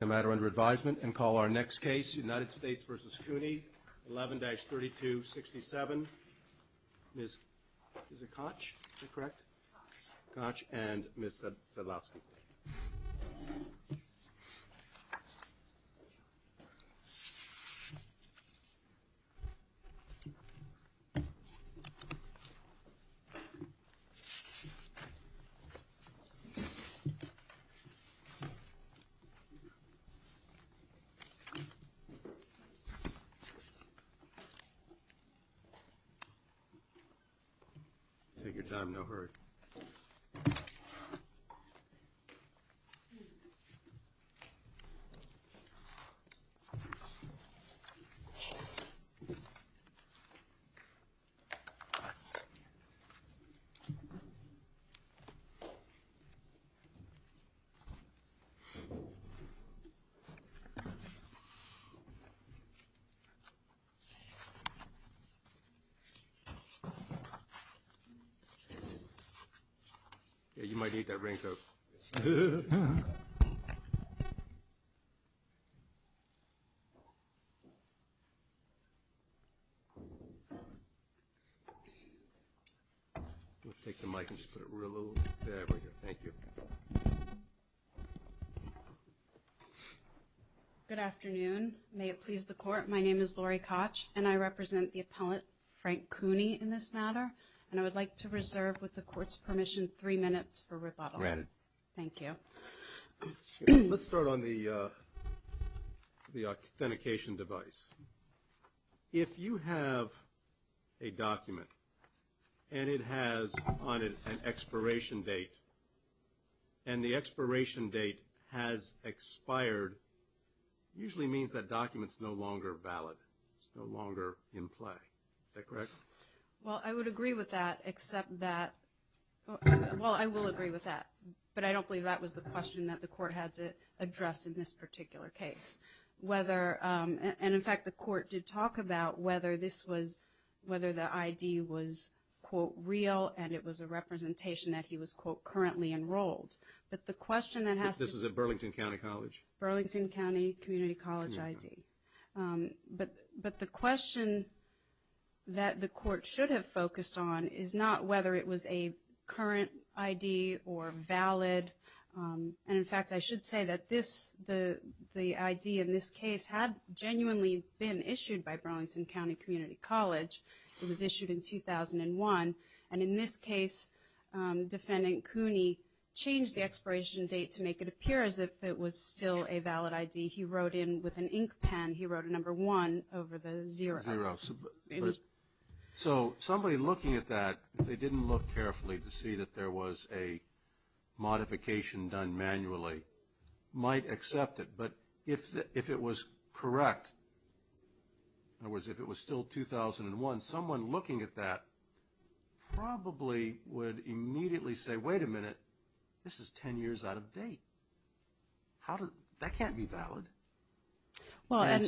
no matter under advisement and call our next case United States versus Kuni 11-3267 Ms. Koch and Ms. Sadlowski. Take your time, no hurry. Good afternoon, may it please the court, my name is Lori Koch and I represent the I would like to reserve with the court's permission three minutes for rebuttal. Let's start on the authentication device. If you have a document and it has on it an expiration date and the expiration date has expired usually means that documents no longer valid, is no longer in play, is that correct? Well, I would agree with that except that, well, I will agree with that, but I don't believe that was the question that the court had to address in this particular case, whether, and in fact the court did talk about whether this was, whether the ID was, quote, real and it was a representation that he was, quote, currently enrolled, but the question that has to- This was at Burlington County College? Burlington County Community College ID. But the question that the court should have focused on is not whether it was a current ID or valid, and in fact I should say that this, the ID in this case had genuinely been issued by Burlington County Community College. It was issued in 2001, and in this case, Defendant Cooney changed the expiration date to make it appear as if it was still a valid ID. He wrote in with an ink pen, he wrote a number one over the zero. So somebody looking at that, if they didn't look carefully to see that there was a modification done manually, might accept it, but if it was correct, in other words, if it was still 2001, someone looking at that probably would immediately say, wait a minute, this is 10 years old, this can't be valid.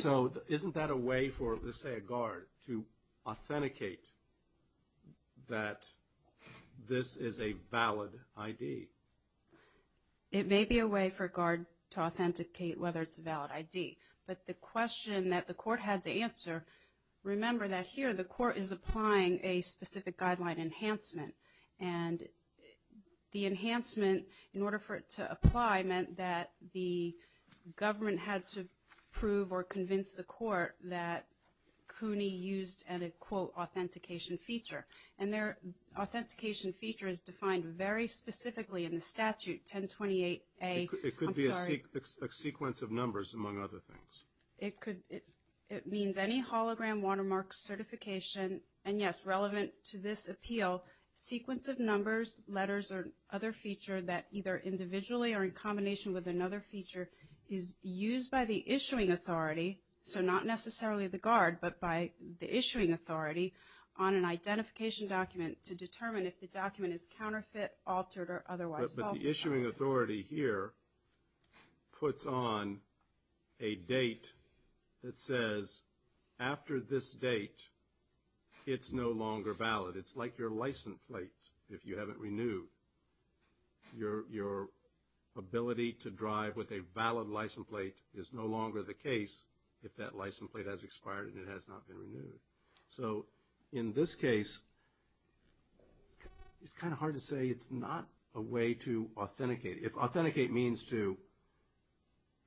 So isn't that a way for, let's say, a guard to authenticate that this is a valid ID? It may be a way for a guard to authenticate whether it's a valid ID, but the question that the court had to answer, remember that here the court is applying a specific guideline enhancement, and the enhancement, in order for it to apply, meant that the government had to prove or convince the court that Cooney used an, quote, authentication feature. And their authentication feature is defined very specifically in the statute, 1028A, I'm sorry. It could be a sequence of numbers, among other things. It means any hologram watermark certification, and yes, relevant to this appeal, sequence of numbers, letters, or other feature that either individually or in combination with another feature is used by the issuing authority, so not necessarily the guard, but by the issuing authority on an identification document to determine if the document is counterfeit, altered, or otherwise falsified. But the issuing authority here puts on a date that says, after this date, it's no longer valid. It's like your license plate, if you haven't renewed. Your ability to drive with a valid license plate is no longer the case if that license So in this case, it's kind of hard to say it's not a way to authenticate. If authenticate means to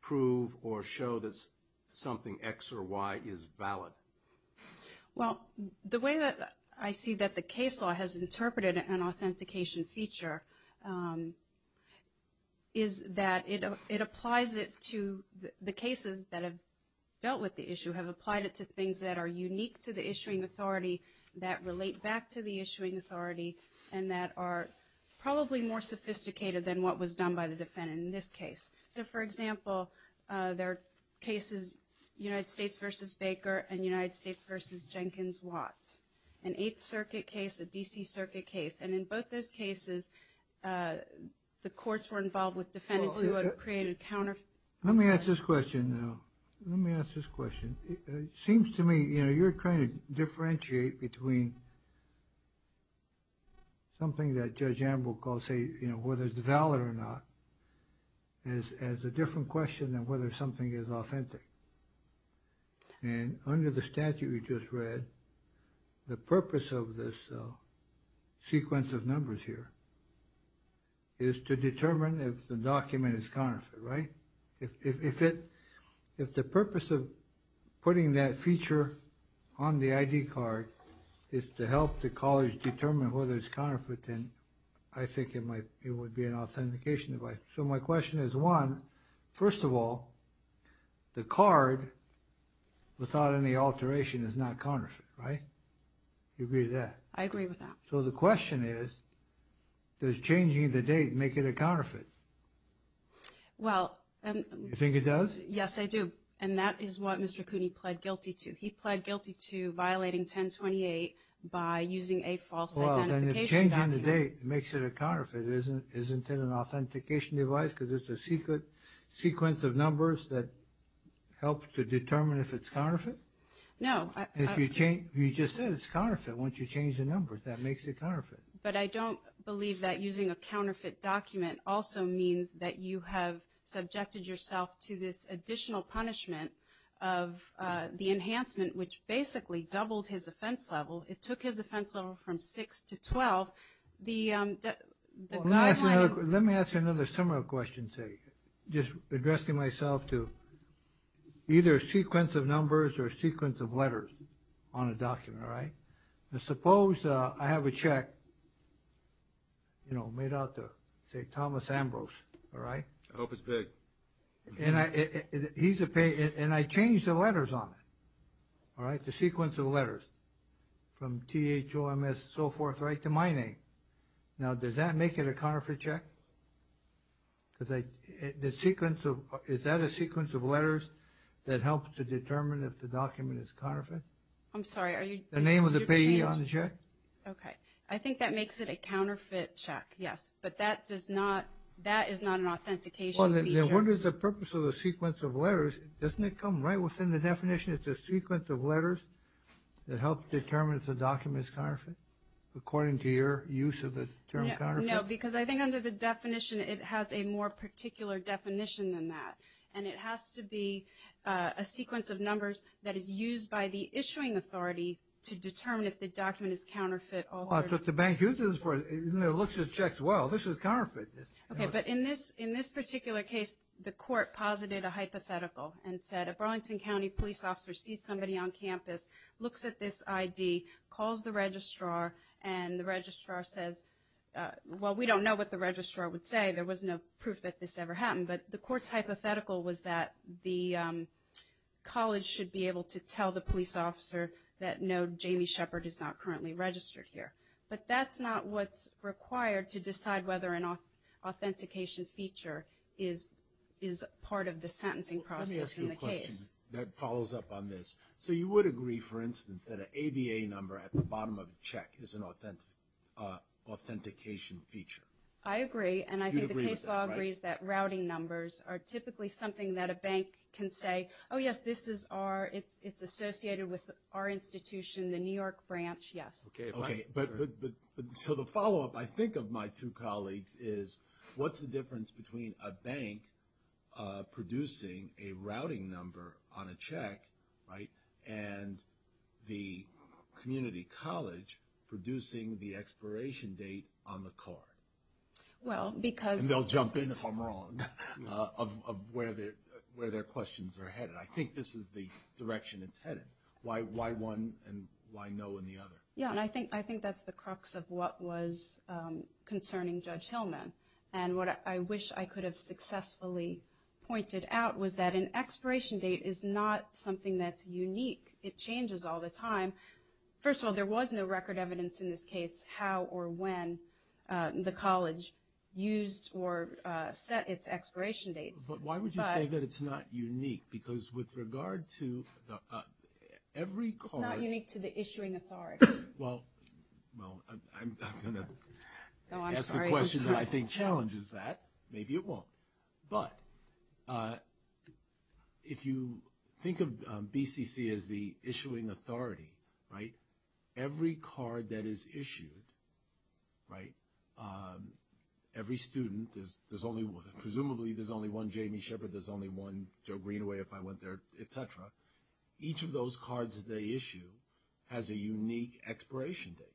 prove or show that something X or Y is valid. Well, the way that I see that the case law has interpreted an authentication feature is that it applies it to the cases that have dealt with the issue, have applied it to things that are unique to the issuing authority, that relate back to the issuing authority, and that are probably more sophisticated than what was done by the defendant in this case. So, for example, there are cases, United States v. Baker and United States v. Jenkins-Watt, an Eighth Circuit case, a D.C. Circuit case, and in both those cases, the courts were involved with defendants who had created counterfeits. Let me ask this question now. Let me ask this question. It seems to me, you know, you're trying to differentiate between something that Judge Ambrose calls, say, you know, whether it's valid or not, as a different question than whether something is authentic. And under the statute we just read, the purpose of this sequence of numbers here is to determine if the document is counterfeit, right? If the purpose of putting that feature on the ID card is to help the college determine whether it's counterfeit, then I think it would be an authentication device. So my question is, one, first of all, the card, without any alteration, is not counterfeit, right? Do you agree with that? I agree with that. So the question is, does changing the date make it a counterfeit? Well, and... You think it does? Yes, I do. And that is what Mr. Cooney pled guilty to. He pled guilty to violating 1028 by using a false identification document. Well, then if changing the date makes it a counterfeit, isn't it an authentication device because it's a sequence of numbers that helps to determine if it's counterfeit? No. If you just said it's counterfeit, once you change the numbers, that makes it counterfeit. But I don't believe that using a counterfeit document also means that you have subjected yourself to this additional punishment of the enhancement, which basically doubled his offense level. It took his offense level from 6 to 12. The guideline... Well, let me ask you another similar question, say, just addressing myself to either a sequence of numbers or a sequence of letters on a document, all right? Now, suppose I have a check, you know, made out to, say, Thomas Ambrose, all right? I hope it's big. And I... He's a... And I change the letters on it, all right? The sequence of letters from T-H-O-M-S, so forth, right to my name. Now, does that make it a counterfeit check? Because I... The sequence of... Is that a sequence of letters that helps to determine if the document is counterfeit? I'm sorry, are you... The name of the payee on the check? Okay. I think that makes it a counterfeit check, yes. But that does not... That is not an authentication feature. Well, then what is the purpose of the sequence of letters? Doesn't it come right within the definition? It's a sequence of letters that helps determine if the document is counterfeit, according to your use of the term counterfeit? No, because I think under the definition, it has a more particular definition than that. And it has to be a sequence of numbers that is used by the issuing authority to determine if the document is counterfeit or... But the bank uses it for... It looks at checks, well, this is counterfeit. Okay, but in this particular case, the court posited a hypothetical and said, a Burlington County police officer sees somebody on campus, looks at this ID, calls the registrar, and the registrar says, well, we don't know what the registrar would say. There was no proof that this ever happened. But the court's hypothetical was that the college should be able to tell the police officer that no, Jamie Shepard is not currently registered here. But that's not what's required to decide whether an authentication feature is part of the sentencing process in the case. Let me ask you a question that follows up on this. So you would agree, for instance, that an ABA number at the bottom of a check is an authentication feature? I agree. And I think the case law agrees that routing numbers are typically something that a bank can say, oh, yes, this is our, it's associated with our institution, the New York branch, yes. Okay. But so the follow-up, I think, of my two colleagues is, what's the difference between a bank producing a routing number on a check, right, and the community college producing the expiration date on the card? Well, because. And they'll jump in if I'm wrong, of where their questions are headed. I think this is the direction it's headed. Why one and why no in the other? Yeah, and I think that's the crux of what was concerning Judge Hillman. And what I wish I could have successfully pointed out was that an expiration date is not something that's unique. It changes all the time. First of all, there was no record evidence in this case how or when the college used or set its expiration dates. But why would you say that it's not unique? Because with regard to every card. It's not unique to the issuing authority. Well, I'm going to ask a question that I think challenges that. Maybe it won't. But if you think of BCC as the issuing authority, right, every card that is issued, right, every student, there's only one. Presumably there's only one Jamie Shepherd. There's only one Joe Greenaway if I went there, et cetera. Each of those cards that they issue has a unique expiration date.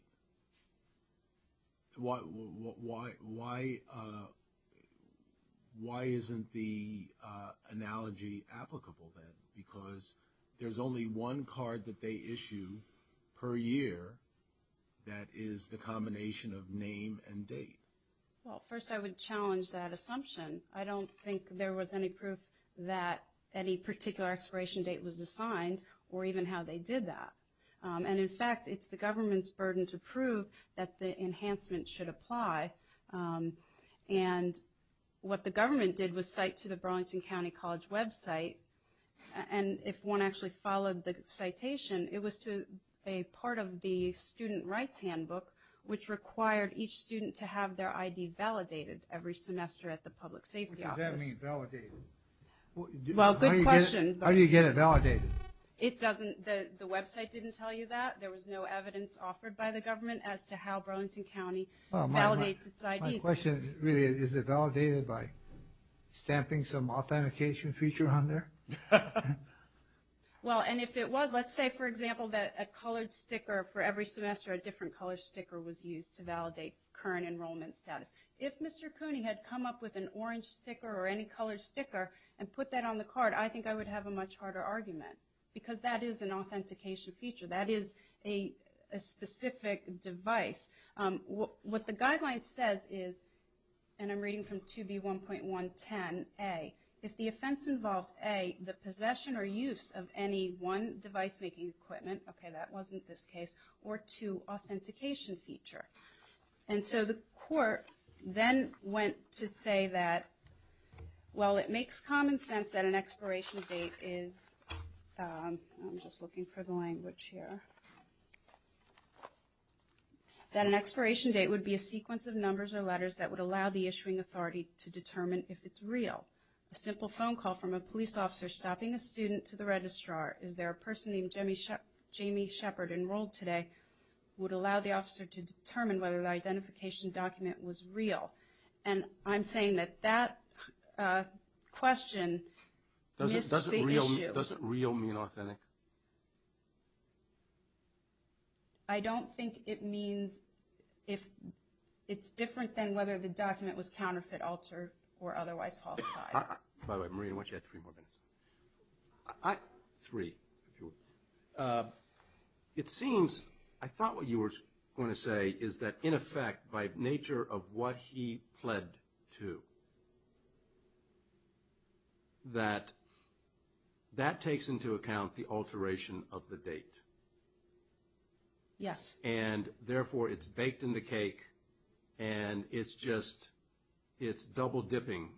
Why isn't the analogy applicable then? Because there's only one card that they issue per year that is the combination of name and date. Well, first I would challenge that assumption. I don't think there was any proof that any particular expiration date was assigned or even how they did that. And, in fact, it's the government's burden to prove that the enhancement should apply. And what the government did was cite to the Burlington County College website. And if one actually followed the citation, it was to a part of the student rights handbook which required each student to have their ID validated every semester at the public safety office. What does that mean, validated? Well, good question. How do you get it validated? It doesn't. The website didn't tell you that. There was no evidence offered by the government as to how Burlington County validates its IDs. My question really is, is it validated by stamping some authentication feature on there? Well, and if it was, let's say, for example, that a colored sticker for every semester, a different colored sticker was used to validate current enrollment status. If Mr. Cooney had come up with an orange sticker or any colored sticker and put that on the card, I think I would have a much harder argument because that is an authentication feature. That is a specific device. What the guideline says is, and I'm reading from 2B1.110A, if the offense involved, A, the possession or use of any one device-making equipment, okay, that wasn't this case, or two, authentication feature. And so the court then went to say that, well, it makes common sense that an expiration date is, I'm just looking for the language here, that an expiration date would be a sequence of numbers or letters that would allow the issuing authority to determine if it's real. A simple phone call from a police officer stopping a student to the registrar, is there a person named Jamie Shepard enrolled today, would allow the officer to determine whether the identification document was real. And I'm saying that that question missed the issue. Does real mean authentic? I don't think it means if it's different than whether the document was counterfeit, altered, or otherwise falsified. By the way, Maria, I want you to add three more minutes. Three. It seems, I thought what you were going to say is that, in effect, by nature of what he pled to, that that takes into account the alteration of the date. Yes. And therefore, it's baked in the cake, and it's just, it's double dipping.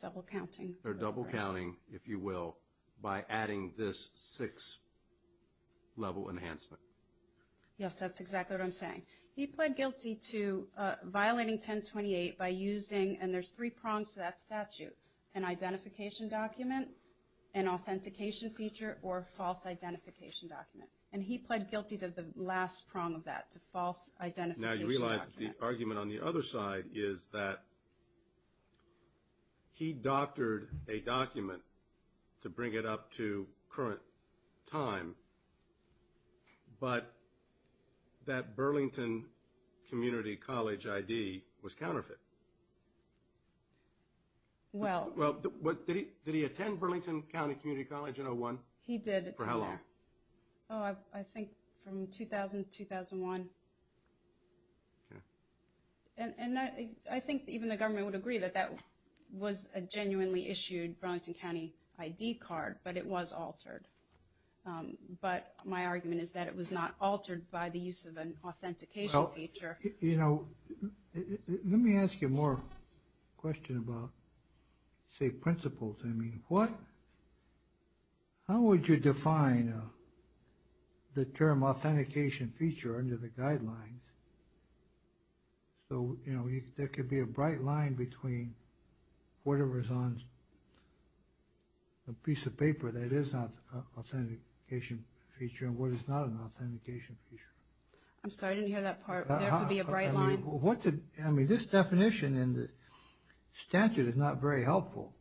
Double counting. Or double counting, if you will, by adding this six level enhancement. Yes, that's exactly what I'm saying. He pled guilty to violating 1028 by using, and there's three prongs to that statute, an identification document, an authentication feature, or a false identification document. And he pled guilty to the last prong of that, to false identification document. Now, you realize the argument on the other side is that he doctored a document to bring it up to current time, but that Burlington Community College ID was counterfeit. Well. Did he attend Burlington County Community College in 01? He did. For how long? Oh, I think from 2000 to 2001. Okay. And I think even the government would agree that that was a genuinely issued Burlington County ID card, but it was altered. But my argument is that it was not altered by the use of an authentication feature. Well, you know, let me ask you more question about, say, principles. I mean, how would you define the term authentication feature under the guidelines? So, you know, there could be a bright line between whatever is on a piece of paper that is not an authentication feature and what is not an authentication feature. I'm sorry, I didn't hear that part. There could be a bright line? I mean, this definition in the statute is not very helpful.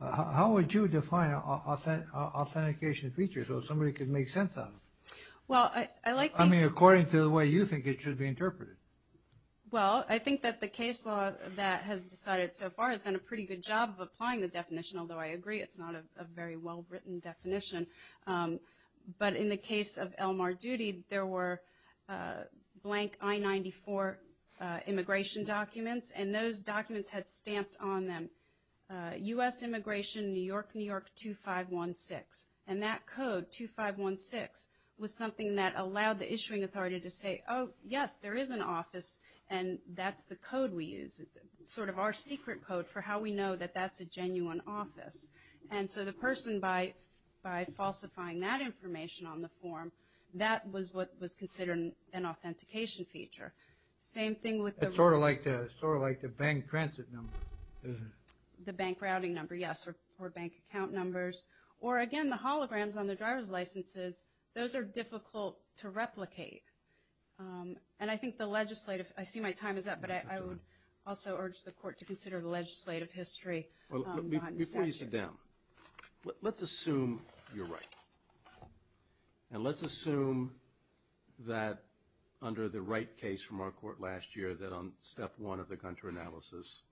How would you define authentication feature so somebody could make sense of it? Well, I like the… I mean, according to the way you think it should be interpreted. Well, I think that the case law that has decided so far has done a pretty good job of applying the definition, although I agree it's not a very well-written definition. But in the case of Elmar Doody, there were blank I-94 immigration documents, and those documents had stamped on them, U.S. Immigration, New York, New York 2516. And that code, 2516, was something that allowed the issuing authority to say, oh, yes, there is an office, and that's the code we use, sort of our secret code for how we know that that's a genuine office. And so the person, by falsifying that information on the form, that was what was considered an authentication feature. Same thing with the… It's sort of like the bank transit number, isn't it? The bank routing number, yes, or bank account numbers. Or, again, the holograms on the driver's licenses, those are difficult to replicate. And I think the legislative… I see my time is up, but I would also urge the Court to consider the legislative history. Before you sit down, let's assume you're right. And let's assume that under the right case from our court last year, that on step one of the Gunter analysis,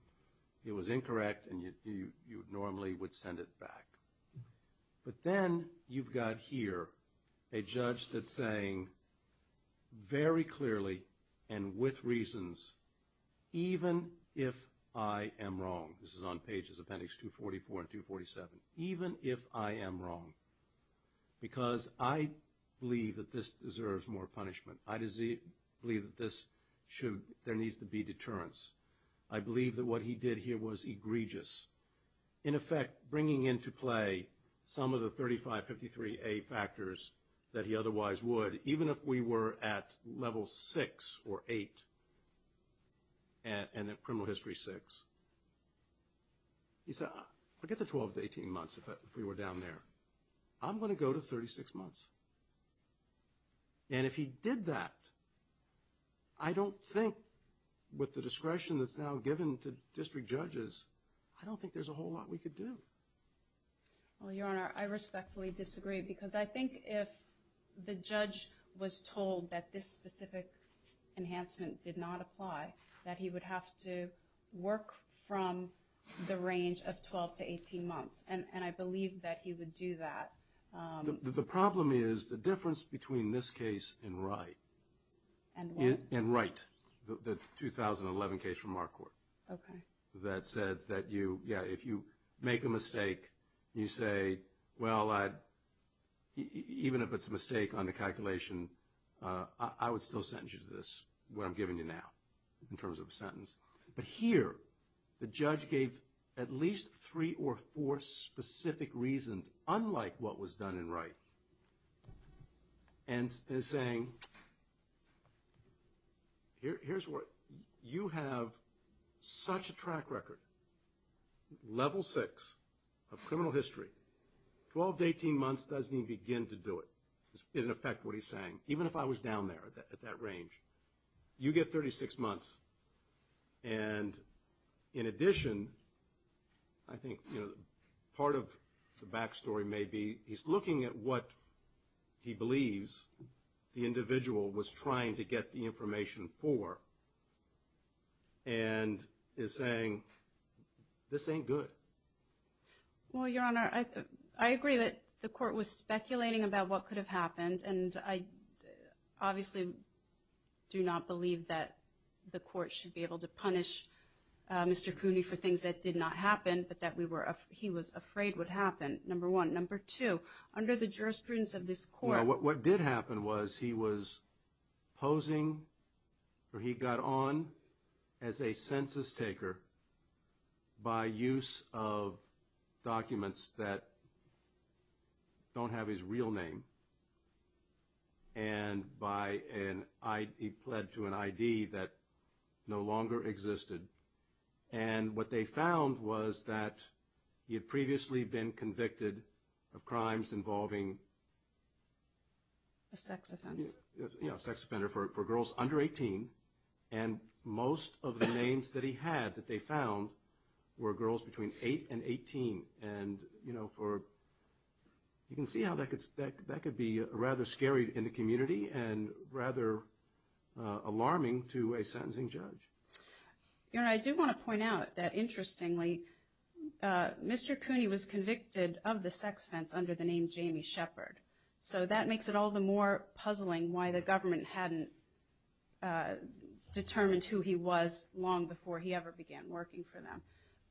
it was incorrect and you normally would send it back. But then you've got here a judge that's saying very clearly and with reasons, even if I am wrong. This is on pages of appendix 244 and 247. Even if I am wrong, because I believe that this deserves more punishment. I believe that there needs to be deterrence. I believe that what he did here was egregious. In effect, bringing into play some of the 3553A factors that he otherwise would, even if we were at level six or eight and at criminal history six, he said, forget the 12 to 18 months if we were down there. I'm going to go to 36 months. And if he did that, I don't think, with the discretion that's now given to district judges, I don't think there's a whole lot we could do. Well, Your Honor, I respectfully disagree. Because I think if the judge was told that this specific enhancement did not apply, that he would have to work from the range of 12 to 18 months. And I believe that he would do that. The problem is the difference between this case and Wright. And what? And Wright, the 2011 case from our court. Okay. That said that, yeah, if you make a mistake, you say, well, even if it's a mistake on the calculation, I would still sentence you to this, what I'm giving you now, in terms of a sentence. But here, the judge gave at least three or four specific reasons, unlike what was done in Wright. And is saying, here's what, you have such a track record, level six of criminal history, 12 to 18 months doesn't even begin to do it, is in effect what he's saying. Even if I was down there, at that range. You get 36 months. And in addition, I think, you know, part of the back story may be, he's looking at what he believes the individual was trying to get the information for. And is saying, this ain't good. Well, Your Honor, I agree that the court was speculating about what could have happened. And I obviously do not believe that the court should be able to punish Mr. Cooney for things that did not happen, but that he was afraid would happen, number one. But number two, under the jurisprudence of this court. What did happen was, he was posing, or he got on as a census taker, by use of documents that don't have his real name. And he pled to an ID that no longer existed. And what they found was that he had previously been convicted of crimes involving... A sex offense. Yeah, a sex offender for girls under 18. And most of the names that he had that they found were girls between 8 and 18. And, you know, you can see how that could be rather scary in the community and rather alarming to a sentencing judge. Your Honor, I do want to point out that, interestingly, Mr. Cooney was convicted of the sex offense under the name Jamie Shepherd. So that makes it all the more puzzling why the government hadn't determined who he was long before he ever began working for them.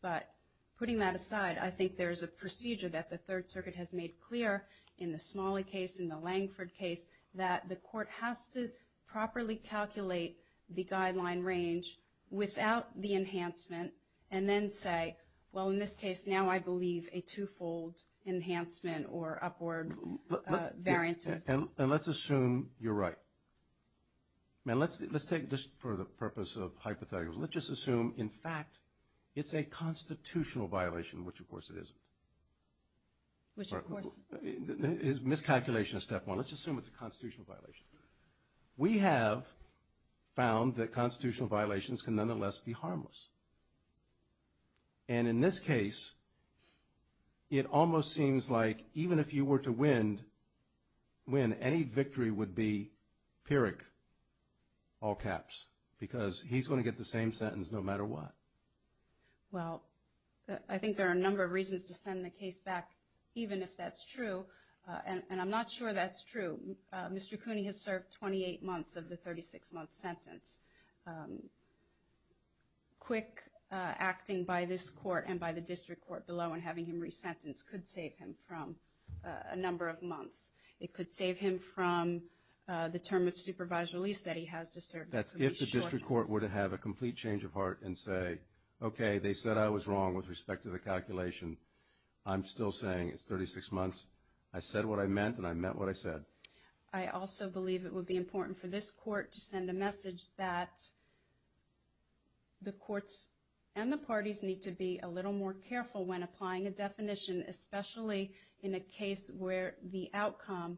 But putting that aside, I think there's a procedure that the Third Circuit has made clear in the Smalley case, in the Langford case, that the court has to properly calculate the guideline range without the enhancement and then say, well, in this case, now I believe a two-fold enhancement or upward variances. And let's assume you're right. Let's take this for the purpose of hypotheticals. Let's just assume, in fact, it's a constitutional violation, which, of course, it isn't. Which, of course, is miscalculation of step one. Let's just assume it's a constitutional violation. We have found that constitutional violations can nonetheless be harmless. And in this case, it almost seems like even if you were to win, any victory would be PYRIC, all caps, because he's going to get the same sentence no matter what. Well, I think there are a number of reasons to send the case back, even if that's true. And I'm not sure that's true. Mr. Cooney has served 28 months of the 36-month sentence. Quick acting by this court and by the district court below in having him resentenced could save him from a number of months. It could save him from the term of supervised release that he has to serve. That's if the district court were to have a complete change of heart and say, okay, they said I was wrong with respect to the calculation. I'm still saying it's 36 months. I said what I meant, and I meant what I said. I also believe it would be important for this court to send a message that the courts and the parties need to be a little more careful when applying a definition, especially in a case where the outcome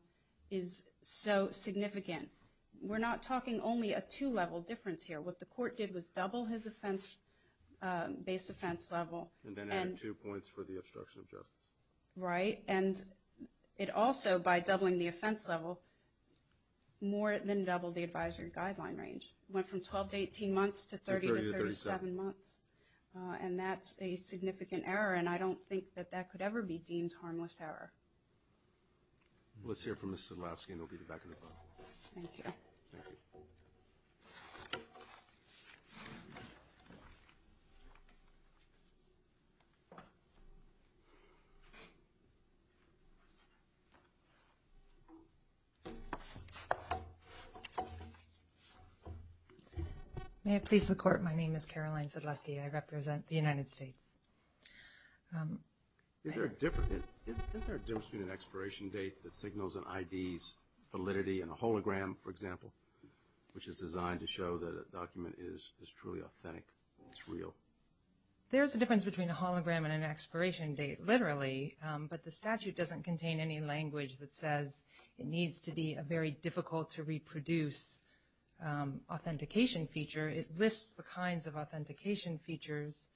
is so significant. We're not talking only a two-level difference here. What the court did was double his base offense level. And then added two points for the obstruction of justice. Right, and it also, by doubling the offense level, more than doubled the advisory guideline range. It went from 12 to 18 months to 30 to 37 months. And that's a significant error, and I don't think that that could ever be deemed harmless error. Let's hear from Ms. Zydlowski, and we'll get back to the panel. Thank you. Thank you. May it please the Court, my name is Caroline Zydlowski. I represent the United States. Is there a difference between an expiration date that signals an ID's validity and a hologram, for example, which is designed to show that a document is truly authentic, it's real? There is a difference between a hologram and an expiration date, literally. But the statute doesn't contain any language that says it needs to be a very difficult to reproduce authentication feature. It lists the kinds of authentication features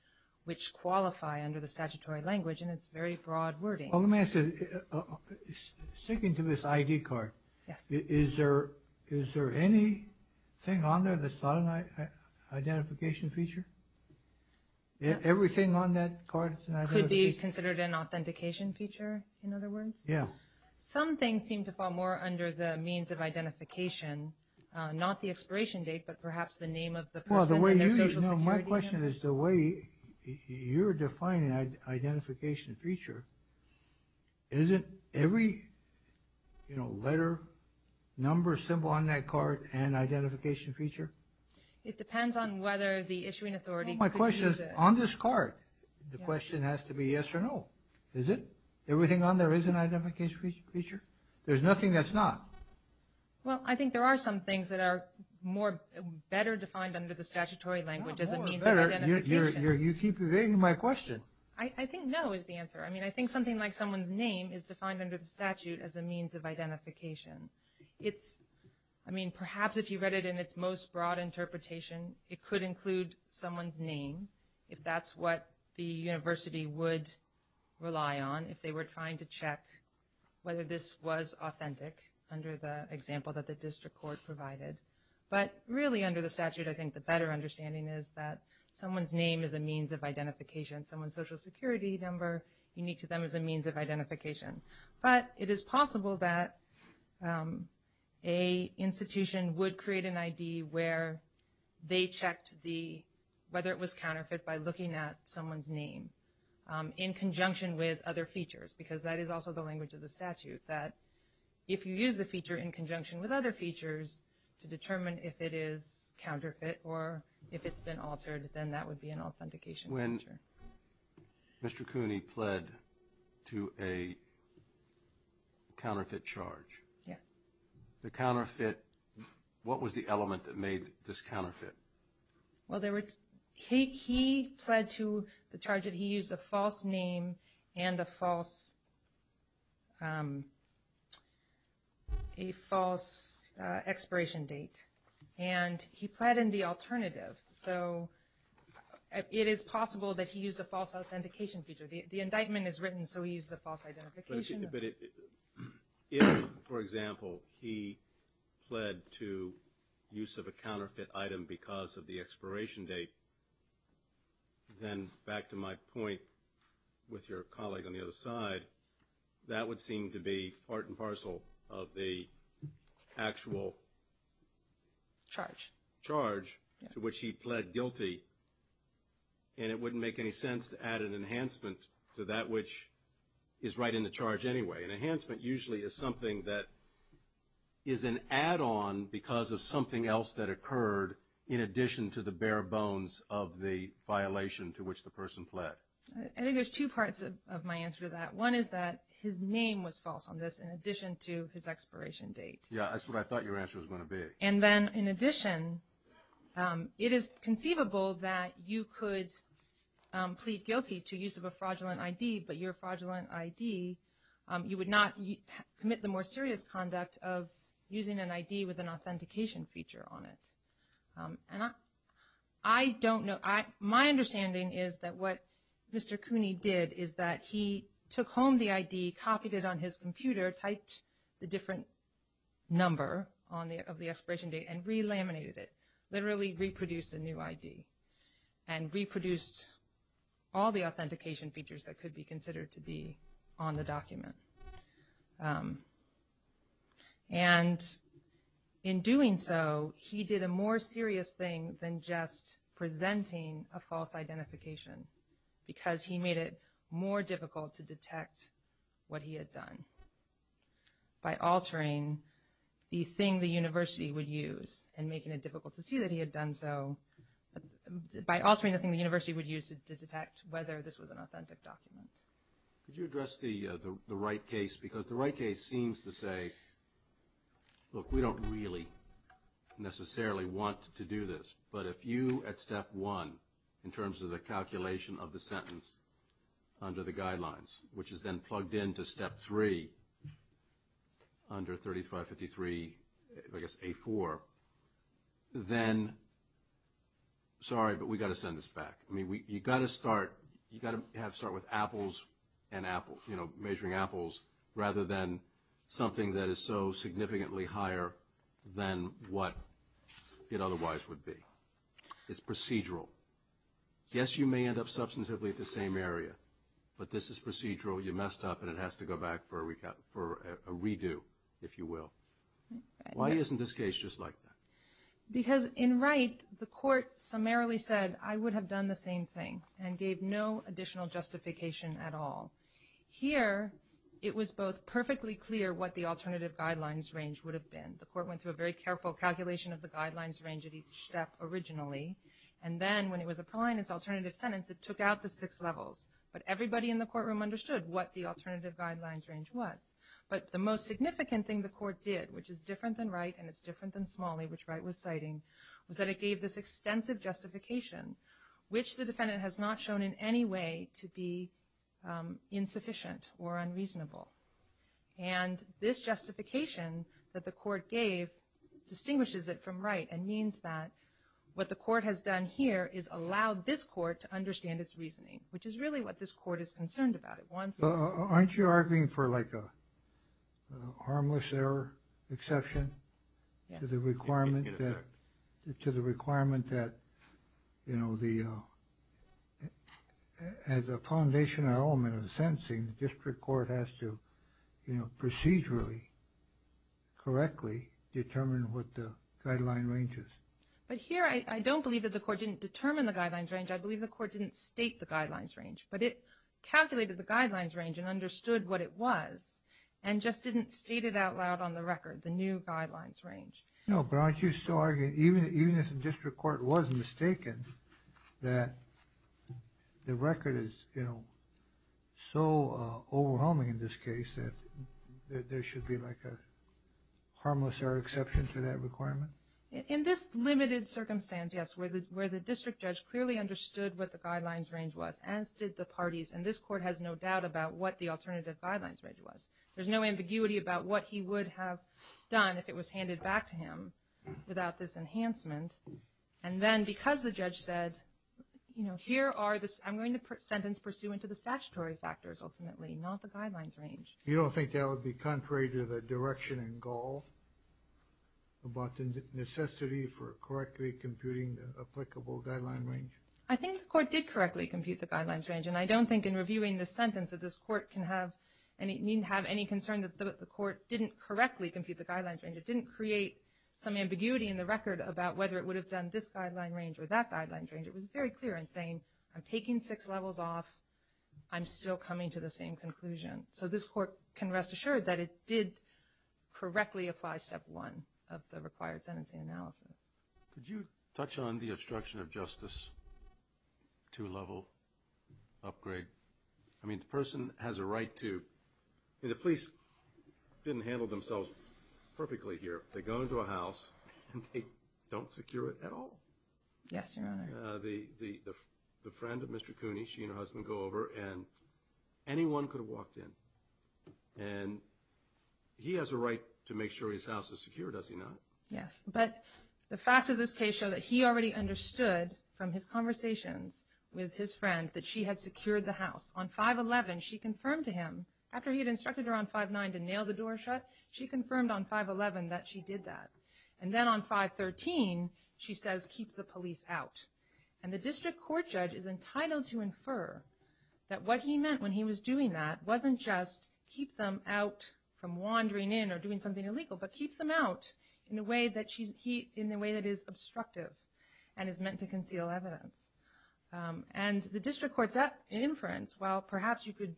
which qualify under the statutory language, and it's very broad wording. Well, let me ask you, sticking to this ID card, is there anything on there that's not an identification feature? Everything on that card is an identification feature? Could be considered an authentication feature, in other words? Yeah. Some things seem to fall more under the means of identification, not the expiration date, but perhaps the name of the person and their social security number. Well, my question is, the way you're defining identification feature, isn't every letter, number, symbol on that card an identification feature? It depends on whether the issuing authority produces it. Well, my question is, on this card, the question has to be yes or no. Is it? Everything on there is an identification feature? There's nothing that's not? Well, I think there are some things that are better defined under the statutory language as a means of identification. You keep evading my question. I think no is the answer. I mean, I think something like someone's name is defined under the statute as a means of identification. I mean, perhaps if you read it in its most broad interpretation, it could include someone's name, if that's what the university would rely on, if they were trying to check whether this was authentic, under the example that the district court provided. But really, under the statute, I think the better understanding is that someone's name is a means of identification. Someone's social security number, unique to them, is a means of identification. But it is possible that an institution would create an ID where they checked whether it was counterfeit by looking at someone's name in conjunction with other features, because that is also the language of the statute, that if you use the feature in conjunction with other features to determine if it is counterfeit or if it's been altered, then that would be an authentication feature. When Mr. Cooney pled to a counterfeit charge, the counterfeit, what was the element that made this counterfeit? Well, he pled to the charge that he used a false name and a false expiration date, and he pled in the alternative. So it is possible that he used a false authentication feature. The indictment is written, so he used a false identification. But if, for example, he pled to use of a counterfeit item because of the expiration date, then back to my point with your colleague on the other side, that would seem to be part and parcel of the actual charge to which he pled guilty, and it wouldn't make any sense to add an enhancement to that which is right in the charge anyway. An enhancement usually is something that is an add-on because of something else that occurred in addition to the bare bones of the violation to which the person pled. I think there's two parts of my answer to that. One is that his name was false on this in addition to his expiration date. Yeah, that's what I thought your answer was going to be. And then in addition, it is conceivable that you could plead guilty to use of a fraudulent ID, but your fraudulent ID, you would not commit the more serious conduct of using an ID with an authentication feature on it. And I don't know. My understanding is that what Mr. Cooney did is that he took home the ID, copied it on his computer, typed the different number of the expiration date, and re-laminated it, literally reproduced a new ID, and reproduced all the authentication features that could be considered to be on the document. And in doing so, he did a more serious thing than just presenting a false identification because he made it more difficult to detect what he had done by altering the thing the university would use and making it difficult to see that he had done so by altering the thing the university would use to detect whether this was an authentic document. Could you address the right case? Because the right case seems to say, look, we don't really necessarily want to do this, but if you, at step one, in terms of the calculation of the sentence under the guidelines, which is then plugged into step three, under 3553, I guess, A4, then, sorry, but we've got to send this back. I mean, you've got to start with apples and apples, you know, measuring apples, rather than something that is so significantly higher than what it otherwise would be. It's procedural. Yes, you may end up substantively at the same area, but this is procedural. You messed up, and it has to go back for a redo, if you will. Why isn't this case just like that? Because in Wright, the court summarily said, I would have done the same thing and gave no additional justification at all. Here, it was both perfectly clear what the alternative guidelines range would have been. The court went through a very careful calculation of the guidelines range at each step originally, and then when it was applying its alternative sentence, it took out the six levels, but everybody in the courtroom understood what the alternative guidelines range was. But the most significant thing the court did, which is different than Wright, and it's different than Smalley, which Wright was citing, was that it gave this extensive justification, which the defendant has not shown in any way to be insufficient or unreasonable. And this justification that the court gave distinguishes it from Wright and means that what the court has done here is allowed this court to understand its reasoning, which is really what this court is concerned about. Aren't you arguing for like a harmless error exception? To the requirement that, you know, as a foundational element of the sentencing, the district court has to procedurally, correctly determine what the guideline range is. But here, I don't believe that the court didn't determine the guidelines range. I believe the court didn't state the guidelines range, but it calculated the guidelines range and understood what it was and just didn't state it out loud on the record, the new guidelines range. No, but aren't you still arguing, even if the district court was mistaken, that the record is, you know, so overwhelming in this case that there should be like a harmless error exception to that requirement? In this limited circumstance, yes, where the district judge clearly understood what the guidelines range was, as did the parties, and this court has no doubt about what the alternative guidelines range was. There's no ambiguity about what he would have done if it was handed back to him without this enhancement. And then because the judge said, you know, here are the, I'm going to sentence pursuant to the statutory factors ultimately, not the guidelines range. You don't think that would be contrary to the direction and goal about the necessity for correctly computing the applicable guideline range? I think the court did correctly compute the guidelines range, and I don't think in reviewing this sentence that this court can have, needn't have any concern that the court didn't correctly compute the guidelines range. It didn't create some ambiguity in the record about whether it would have done this guideline range or that guideline range. It was very clear in saying, I'm taking six levels off. I'm still coming to the same conclusion. So this court can rest assured that it did correctly apply step one of the required sentencing analysis. Could you touch on the obstruction of justice two-level upgrade? I mean, the person has a right to, the police didn't handle themselves perfectly here. They go into a house, and they don't secure it at all. Yes, Your Honor. The friend of Mr. Cooney, she and her husband go over, and anyone could have walked in. And he has a right to make sure his house is secure, does he not? Yes. But the facts of this case show that he already understood from his conversations with his friend that she had secured the house. On 5-11, she confirmed to him, after he had instructed her on 5-9 to nail the door shut, she confirmed on 5-11 that she did that. And then on 5-13, she says, keep the police out. And the district court judge is entitled to infer that what he meant when he was doing that wasn't just keep them out from wandering in or doing something illegal, but keep them out in a way that is obstructive and is meant to conceal evidence. And the district court's inference, while perhaps you could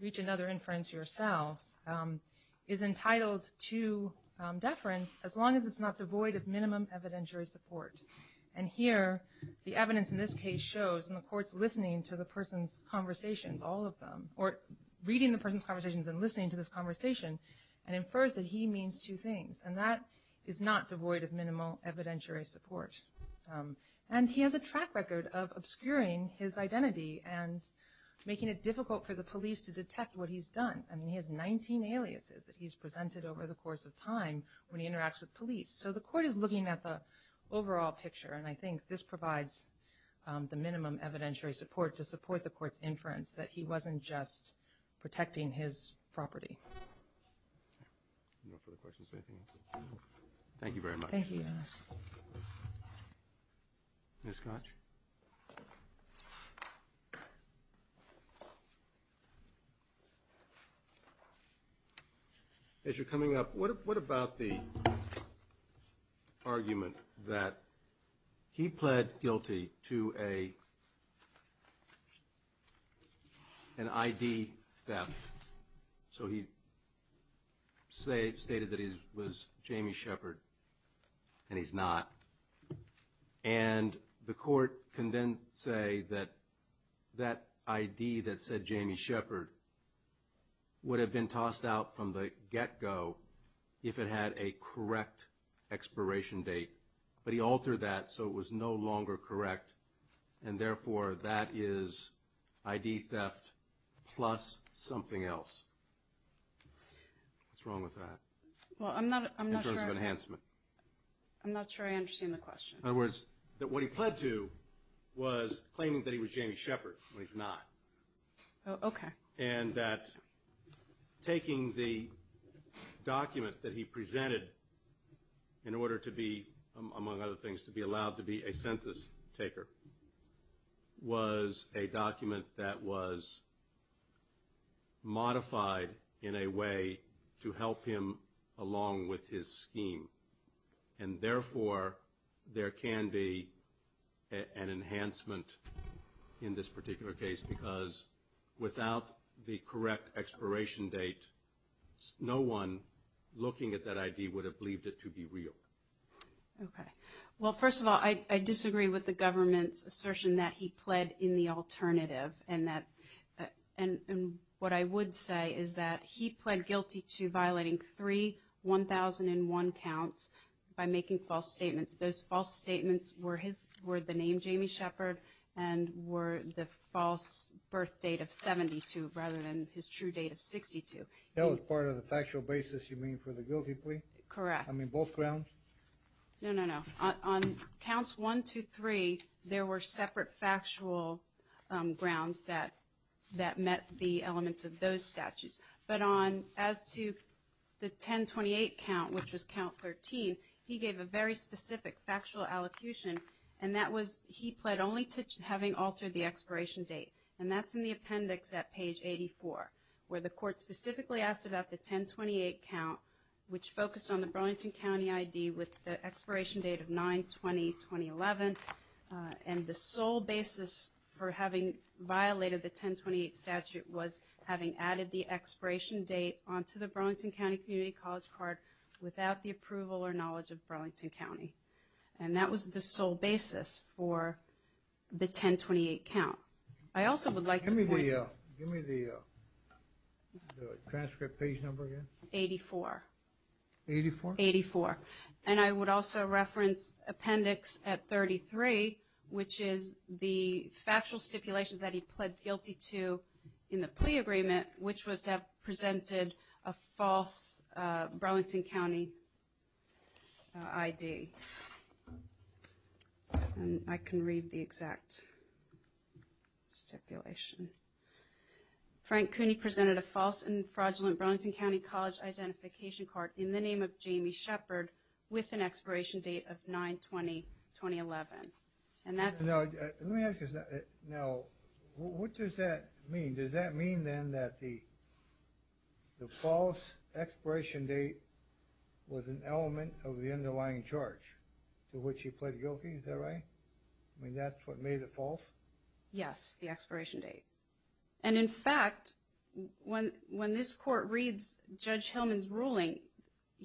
reach another inference yourselves, is entitled to deference as long as it's not devoid of minimum evidentiary support. And here, the evidence in this case shows, and the court's listening to the person's conversations, all of them, or reading the person's conversations and listening to this conversation, and infers that he means two things, and that is not devoid of minimal evidentiary support. And he has a track record of obscuring his identity and making it difficult for the police to detect what he's done. I mean, he has 19 aliases that he's presented over the course of time when he interacts with police. So the court is looking at the overall picture, and I think this provides the minimum evidentiary support to support the court's inference that he wasn't just protecting his property. No further questions? Thank you very much. Thank you, Your Honor. Ms. Koch? As you're coming up, what about the argument that he pled guilty to an ID theft? So he stated that he was Jamie Shepard, and he's not. And the court can then say that that ID that said Jamie Shepard would have been tossed out from the get-go if it had a correct expiration date. But he altered that so it was no longer correct, and therefore that is ID theft plus something else. What's wrong with that in terms of enhancement? I'm not sure I understand the question. In other words, that what he pled to was claiming that he was Jamie Shepard, but he's not. Okay. And that taking the document that he presented in order to be, among other things, to be allowed to be a census taker was a document that was modified in a way to help him along with his scheme, and therefore there can be an enhancement in this particular case because without the correct expiration date, no one looking at that ID would have believed it to be real. Okay. Well, first of all, I disagree with the government's assertion that he pled in the alternative, and what I would say is that he pled guilty to violating three 1001 counts by making false statements. Those false statements were the name Jamie Shepard and were the false birth date of 72 rather than his true date of 62. That was part of the factual basis you mean for the guilty plea? Correct. I mean both grounds? No, no, no. On counts one, two, three, there were separate factual grounds that met the elements of those statutes. But as to the 1028 count, which was count 13, he gave a very specific factual allocution, and that was he pled only to having altered the expiration date, and that's in the appendix at page 84, where the court specifically asked about the 1028 count, which focused on the Burlington County ID with the expiration date of 9-20-2011, and the sole basis for having violated the 1028 statute was having added the expiration date onto the Burlington County Community College card without the approval or knowledge of Burlington County. And that was the sole basis for the 1028 count. I also would like to point out. Give me the transcript page number again. 84. 84? 84. And I would also reference appendix at 33, which is the factual stipulations that he pled guilty to in the plea agreement, which was to have presented a false Burlington County ID. And I can read the exact stipulation. Frank Cooney presented a false and fraudulent Burlington County College identification card in the name of Jamie Shepard with an expiration date of 9-20-2011. Now, what does that mean? Does that mean then that the false expiration date was an element of the underlying charge to which he pled guilty? Is that right? I mean, that's what made it false? Yes, the expiration date. And, in fact, when this court reads Judge Hillman's ruling,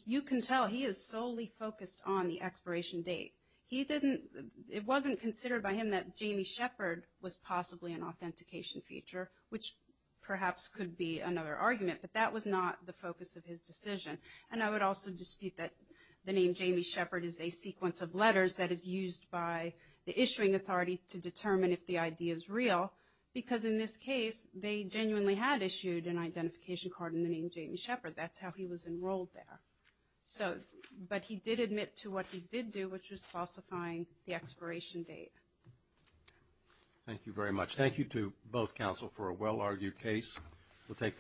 you can tell he is solely focused on the expiration date. It wasn't considered by him that Jamie Shepard was possibly an authentication feature, which perhaps could be another argument, but that was not the focus of his decision. And I would also dispute that the name Jamie Shepard is a sequence of letters that is used by the In this case, they genuinely had issued an identification card in the name Jamie Shepard. That's how he was enrolled there. But he did admit to what he did do, which was falsifying the expiration date. Thank you very much. Thank you to both counsel for a well-argued case.